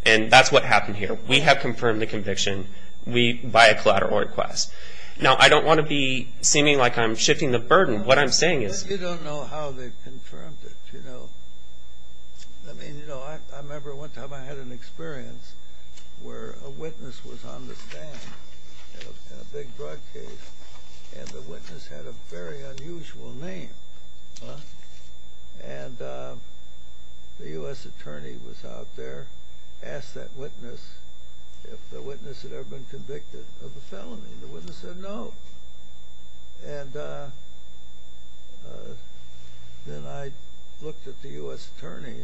And that's what happened here. We have confirmed the conviction by a collateral request. Now, I don't want to be seeming like I'm shifting the burden. What I'm saying is you don't know how they confirmed it. I remember one time I had an experience where a witness was on the stand in a big drug case and the witness had a very unusual name. And the U.S. attorney was out there, asked that witness if the witness had ever been convicted of a felony. The witness said no. And then I looked at the U.S. attorney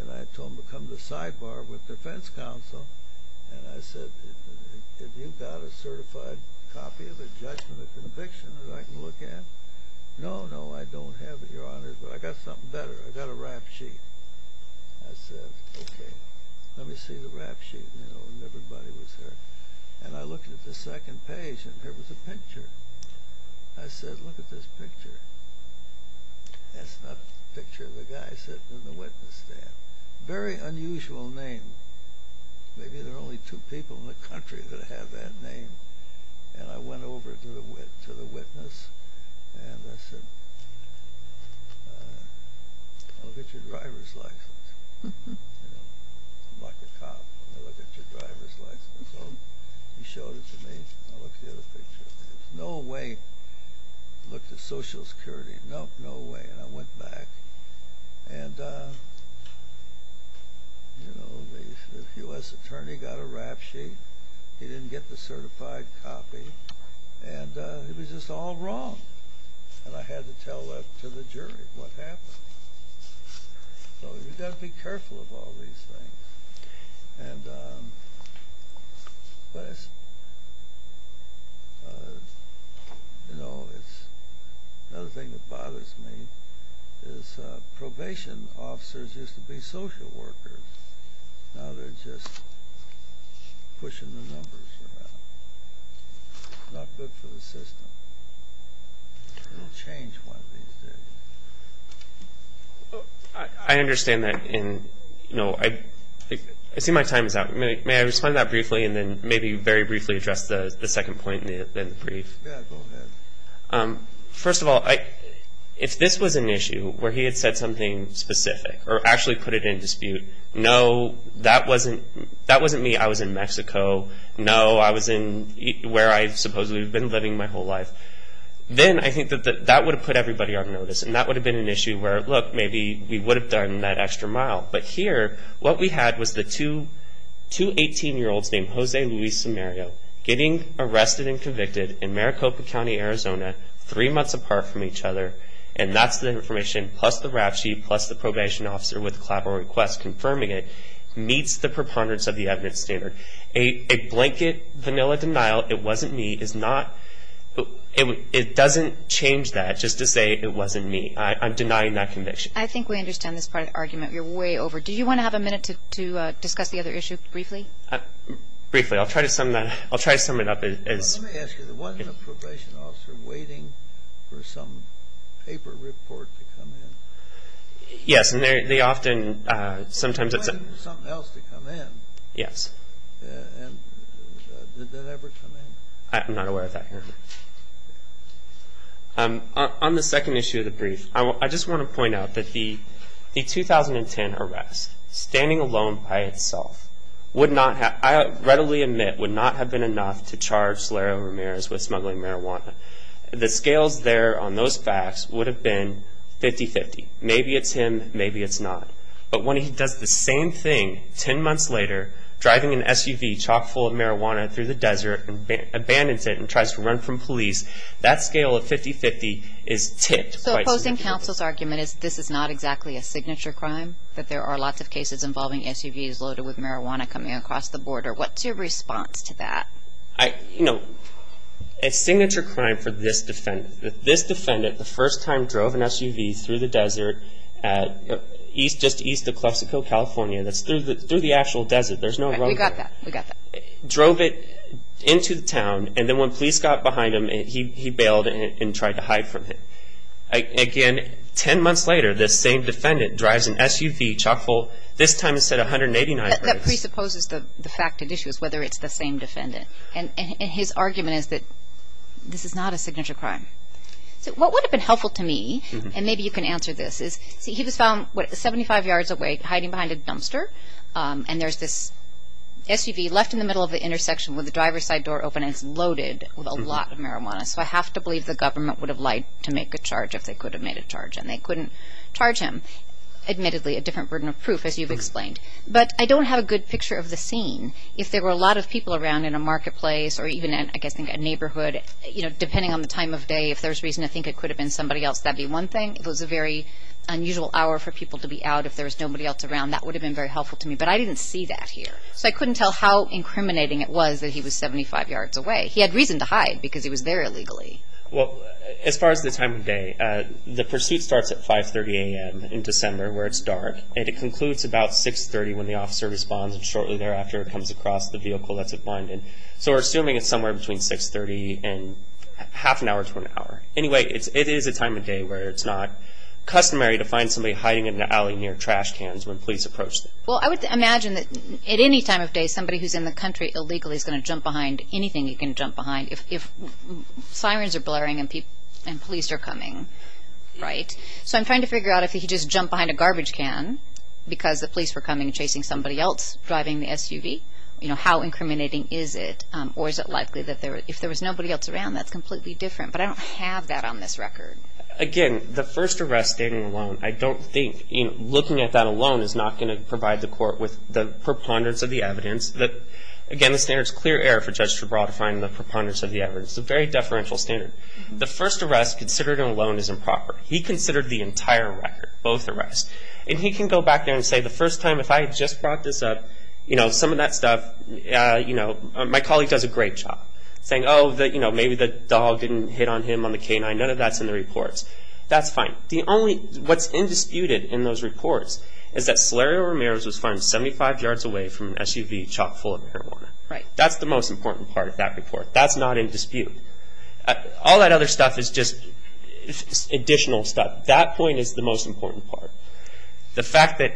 and I told him to come to the sidebar with the defense counsel and I said, have you got a certified copy of a judgment of conviction that I can look at? No, no, I don't have it, Your Honor, but I've got something better. I've got a rap sheet. I said, okay, let me see the rap sheet. And everybody was there. And I looked at the second page and there was a picture. I said, look at this picture. That's not a picture of the guy sitting in the witness stand. Very unusual name. Maybe there are only two people in the country that have that name. And I went over to the witness and I said, I'll look at your driver's license. I'm like a cop. I'll look at your driver's license. He showed it to me. I looked at the other picture. There's no way. I looked at Social Security. Nope, no way. And I went back. And, you know, the U.S. attorney got a rap sheet. He didn't get the certified copy. And it was just all wrong. And I had to tell that to the jury what happened. So you've got to be careful of all these things. And, you know, another thing that bothers me is probation officers used to be social workers. Now they're just pushing the numbers around. Not good for the system. They'll change one of these days. I understand that. And, you know, I see my time is up. May I respond to that briefly and then maybe very briefly address the second point in the brief? Yeah, go ahead. First of all, if this was an issue where he had said something specific or actually put it in dispute, no, that wasn't me, I was in Mexico. No, I was in where I supposedly have been living my whole life. Then I think that that would have put everybody on notice. And that would have been an issue where, look, maybe we would have done that extra mile. But here what we had was the two 18-year-olds named Jose Luis Samario getting arrested and convicted in Maricopa County, Arizona, three months apart from each other. And that's the information, plus the rap sheet, plus the probation officer with the collateral request confirming it, meets the preponderance of the evidence standard. A blanket, vanilla denial, it wasn't me, it doesn't change that just to say it wasn't me. I'm denying that conviction. I think we understand this part of the argument. You're way over. Do you want to have a minute to discuss the other issue briefly? Briefly. I'll try to sum it up. Let me ask you, wasn't a probation officer waiting for some paper report to come in? Yes, and they often, sometimes it's a- Waiting for something else to come in. Yes. And did that ever come in? I'm not aware of that here. On the second issue of the brief, I just want to point out that the 2010 arrest, standing alone by itself, would not have, I readily admit, would not have been enough to charge Solero Ramirez with smuggling marijuana. The scales there on those facts would have been 50-50. Maybe it's him, maybe it's not. But when he does the same thing ten months later, driving an SUV chock full of marijuana through the desert, and abandons it and tries to run from police, that scale of 50-50 is tipped. So opposing counsel's argument is this is not exactly a signature crime, that there are lots of cases involving SUVs loaded with marijuana coming across the border. What's your response to that? You know, a signature crime for this defendant, this defendant the first time drove an SUV through the desert just east of Clesico, California. That's through the actual desert. We got that. Drove it into the town, and then when police got behind him, he bailed and tried to hide from him. Again, ten months later, this same defendant drives an SUV chock full, this time instead of 189. That presupposes the fact of the issue is whether it's the same defendant. And his argument is that this is not a signature crime. So what would have been helpful to me, and maybe you can answer this, is he was found 75 yards away hiding behind a dumpster, and there's this SUV left in the middle of the intersection with the driver's side door open, and it's loaded with a lot of marijuana. So I have to believe the government would have lied to make a charge if they could have made a charge, and they couldn't charge him. Admittedly, a different burden of proof, as you've explained. But I don't have a good picture of the scene. If there were a lot of people around in a marketplace or even, I guess, in a neighborhood, you know, depending on the time of day, if there was reason to think it could have been somebody else, that would be one thing. If it was a very unusual hour for people to be out, if there was nobody else around, that would have been very helpful to me. But I didn't see that here. So I couldn't tell how incriminating it was that he was 75 yards away. He had reason to hide because he was there illegally. Well, as far as the time of day, the pursuit starts at 5.30 a.m. in December where it's dark, and it concludes about 6.30 when the officer responds, and shortly thereafter it comes across the vehicle that's abandoned. So we're assuming it's somewhere between 6.30 and half an hour to an hour. Anyway, it is a time of day where it's not customary to find somebody hiding in an alley near trash cans when police approach them. Well, I would imagine that at any time of day, somebody who's in the country illegally is going to jump behind anything you can jump behind. If sirens are blaring and police are coming, right? So I'm trying to figure out if he just jumped behind a garbage can because the police were coming and chasing somebody else driving the SUV, you know, how incriminating is it? Or is it likely that if there was nobody else around, that's completely different? But I don't have that on this record. Again, the first arrest stating alone, I don't think, you know, looking at that alone is not going to provide the court with the preponderance of the evidence. Again, the standard is clear error for Judge Straubrode to find the preponderance of the evidence. It's a very deferential standard. The first arrest considered alone is improper. He considered the entire record, both arrests. And he can go back there and say the first time if I had just brought this up, you know, some of that stuff, you know, my colleague does a great job saying, oh, you know, maybe the dog didn't hit on him on the canine. None of that's in the reports. That's fine. The only, what's indisputed in those reports is that Solario Ramirez was found 75 yards away from an SUV chock full of marijuana. That's the most important part of that report. That's not in dispute. All that other stuff is just additional stuff. That point is the most important part. The fact that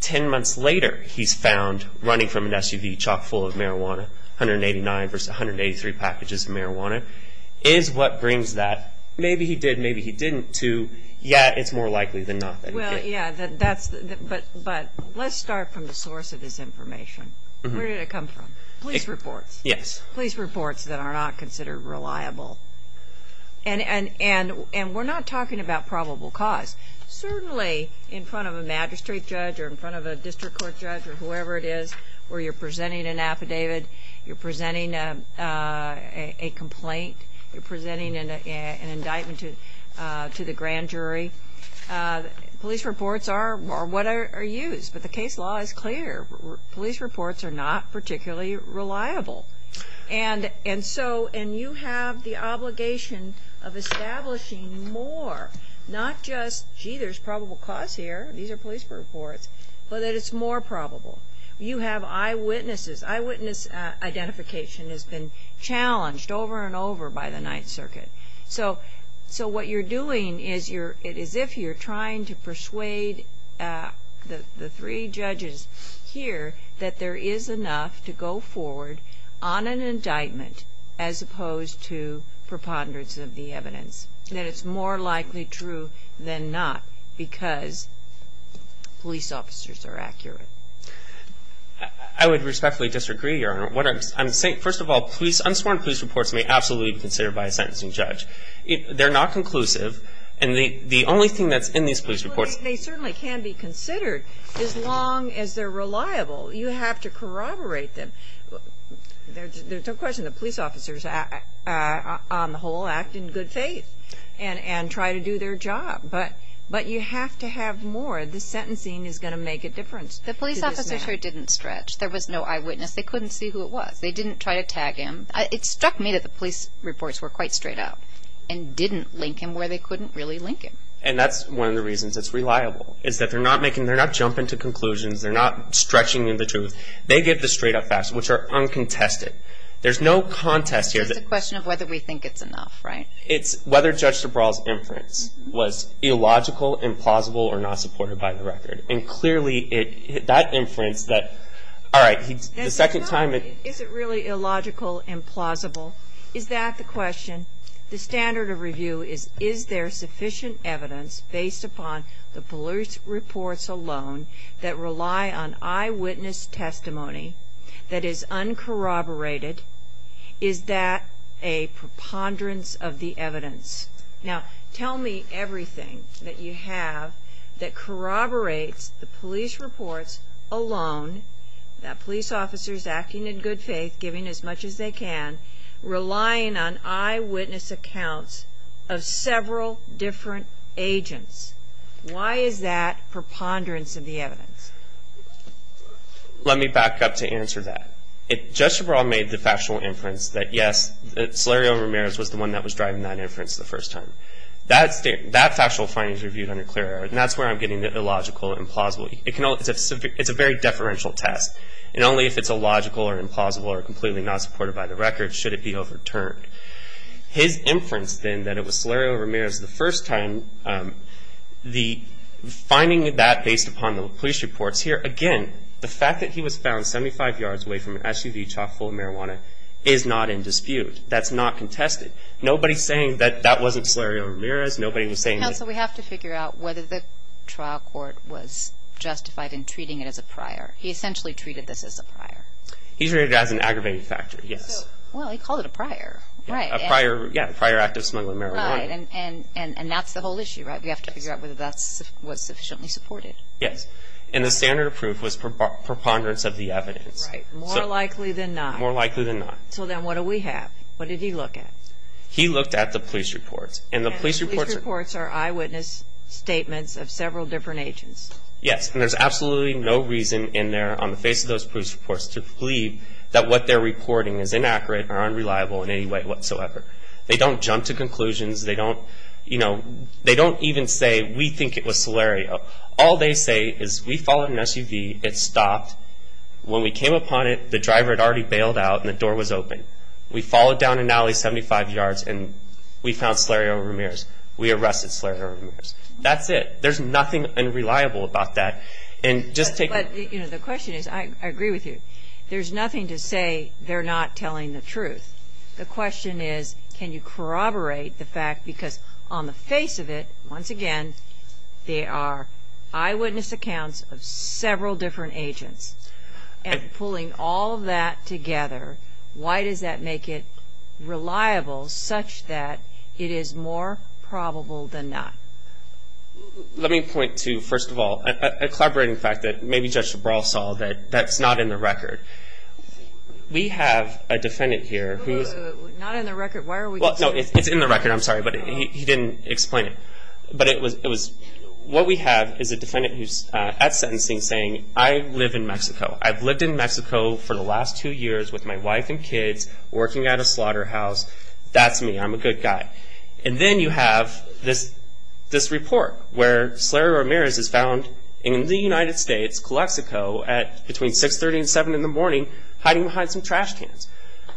10 months later he's found running from an SUV chock full of marijuana, 189 versus 183 packages of marijuana, is what brings that maybe he did, maybe he didn't, to yeah, it's more likely than not that he did. Well, yeah, but let's start from the source of this information. Where did it come from? Police reports. Yes. Police reports that are not considered reliable. And we're not talking about probable cause. Certainly in front of a magistrate judge or in front of a district court judge or whoever it is where you're presenting an affidavit, you're presenting a complaint, you're presenting an indictment to the grand jury, police reports are what are used. But the case law is clear. Police reports are not particularly reliable. And so you have the obligation of establishing more, not just, gee, there's probable cause here, these are police reports, but that it's more probable. You have eyewitnesses. Eyewitness identification has been challenged over and over by the Ninth Circuit. So what you're doing is as if you're trying to persuade the three judges here that there is enough to go forward on an indictment as opposed to preponderance of the evidence, that it's more likely true than not because police officers are accurate. I would respectfully disagree, Your Honor. First of all, unsworn police reports may absolutely be considered by a sentencing judge. They're not conclusive. And the only thing that's in these police reports they certainly can be considered as long as they're reliable. You have to corroborate them. There's no question the police officers on the whole act in good faith and try to do their job. But you have to have more. The sentencing is going to make a difference. The police officers here didn't stretch. There was no eyewitness. They couldn't see who it was. They didn't try to tag him. It struck me that the police reports were quite straight up and didn't link him where they couldn't really link him. And that's one of the reasons it's reliable is that they're not making, they're not jumping to conclusions. They're not stretching the truth. They give the straight-up facts, which are uncontested. There's no contest here. It's a question of whether we think it's enough, right? It's whether Judge DuBras' inference was illogical, implausible, or not supported by the record. And clearly that inference that, all right, the second time. Is it really illogical, implausible? Is that the question? The standard of review is is there sufficient evidence based upon the police reports alone that rely on eyewitness testimony that is uncorroborated? Is that a preponderance of the evidence? Now, tell me everything that you have that corroborates the police reports alone, that police officers acting in good faith, giving as much as they can, relying on eyewitness accounts of several different agents. Why is that preponderance of the evidence? Let me back up to answer that. Judge DuBras made the factual inference that, yes, Salerio Ramirez was the one that was driving that inference the first time. That factual finding is reviewed under clear error, and that's where I'm getting the illogical, implausible. It's a very deferential test, and only if it's illogical or implausible or completely not supported by the record should it be overturned. His inference, then, that it was Salerio Ramirez the first time, the finding of that based upon the police reports here, again, the fact that he was found 75 yards away from an SUV chock full of marijuana is not in dispute. That's not contested. Nobody's saying that that wasn't Salerio Ramirez. Nobody was saying that. Counsel, we have to figure out whether the trial court was justified in treating it as a prior. He essentially treated this as a prior. He treated it as an aggravating factor, yes. Well, he called it a prior, right. A prior, yeah, prior act of smuggling marijuana. Right, and that's the whole issue, right? We have to figure out whether that was sufficiently supported. Yes, and the standard of proof was preponderance of the evidence. Right, more likely than not. More likely than not. So then what do we have? What did he look at? He looked at the police reports, and the police reports are eyewitness statements of several different agents. Yes, and there's absolutely no reason in there on the face of those police reports to believe that what they're reporting is inaccurate or unreliable in any way whatsoever. They don't jump to conclusions. They don't even say, we think it was Salerio. All they say is, we followed an SUV. It stopped. When we came upon it, the driver had already bailed out, and the door was open. We followed down an alley 75 yards, and we found Salerio Ramirez. We arrested Salerio Ramirez. That's it. There's nothing unreliable about that. The question is, I agree with you, there's nothing to say they're not telling the truth. The question is, can you corroborate the fact, because on the face of it, once again, they are eyewitness accounts of several different agents. And pulling all of that together, why does that make it reliable such that it is more probable than not? Let me point to, first of all, a collaborating fact that maybe Judge LaBral saw that that's not in the record. We have a defendant here who is- Not in the record. Why are we- Well, no, it's in the record. I'm sorry, but he didn't explain it. But what we have is a defendant who's at sentencing saying, I live in Mexico. I've lived in Mexico for the last two years with my wife and kids, working at a slaughterhouse. That's me. I'm a good guy. And then you have this report where Salerio Ramirez is found in the United States, Calexico, at between 630 and 7 in the morning, hiding behind some trash cans.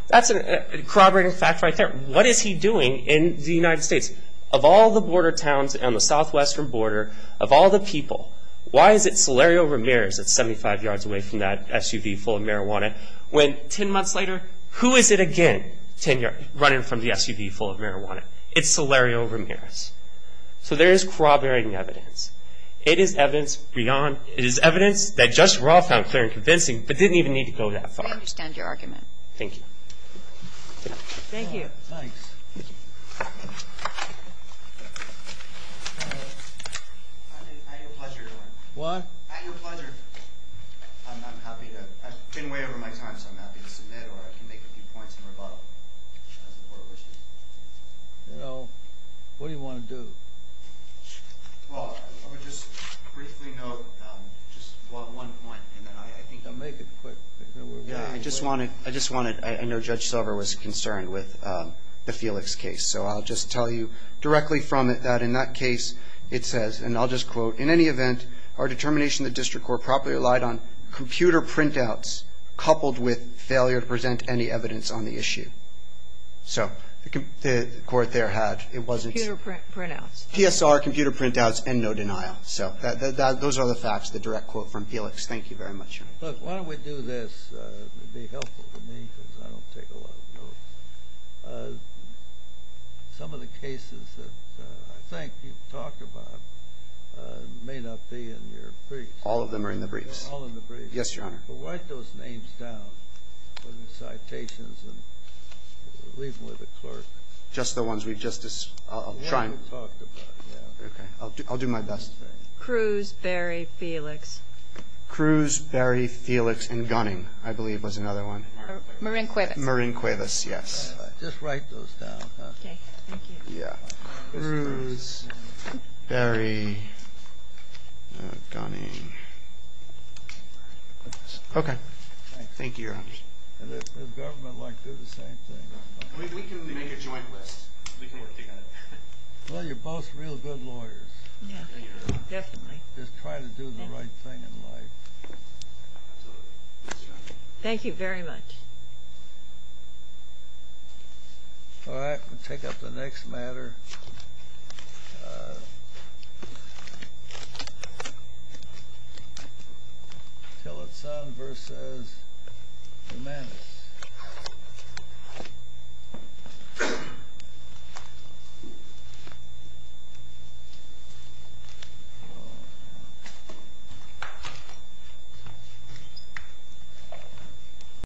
That's a corroborating fact right there. What is he doing in the United States? Of all the border towns on the southwestern border, of all the people, why is it Salerio Ramirez is 75 yards away from that SUV full of marijuana, when 10 months later, who is it again running from the SUV full of marijuana? It's Salerio Ramirez. So there is corroborating evidence. It is evidence beyond- It is evidence that Judge Roth found clear and convincing, but didn't even need to go that far. I understand your argument. Thank you. Thank you. Thanks. I had your pleasure, Your Honor. What? I had your pleasure. I'm happy to- I've been way over my time, so I'm happy to submit, or I can make a few points in rebuttal, as the Court wishes. No. What do you want to do? Well, I would just briefly note just one point, and then I think- Make it quick. I just wanted- I know Judge Silver was concerned with the Felix case, so I'll just tell you directly from it that in that case, it says, and I'll just quote, in any event, our determination in the District Court properly relied on computer printouts coupled with failure to present any evidence on the issue. So the Court there had- Computer printouts. PSR, computer printouts, and no denial. So those are the facts, the direct quote from Felix. Thank you very much, Your Honor. Look, why don't we do this? It would be helpful to me because I don't take a lot of notes. Some of the cases that I think you've talked about may not be in your briefs. All of them are in the briefs. All in the briefs. Yes, Your Honor. But write those names down in the citations and leave them with the clerk. Just the ones we've just described? The ones we've talked about. Okay. I'll do my best. Cruz, Berry, Felix. Cruz, Berry, Felix, and Gunning, I believe, was another one. Marin Cuevas. Marin Cuevas, yes. Just write those down. Okay. Thank you. Yeah. Cruz, Berry, Gunning. Okay. Thank you, Your Honor. Does government like to do the same thing? We can make a joint list. We can work together. Well, you're both real good lawyers. Yeah, definitely. Just trying to do the right thing in life. Thank you very much. All right. We'll take up the next matter. Tillotson v. Jimenez.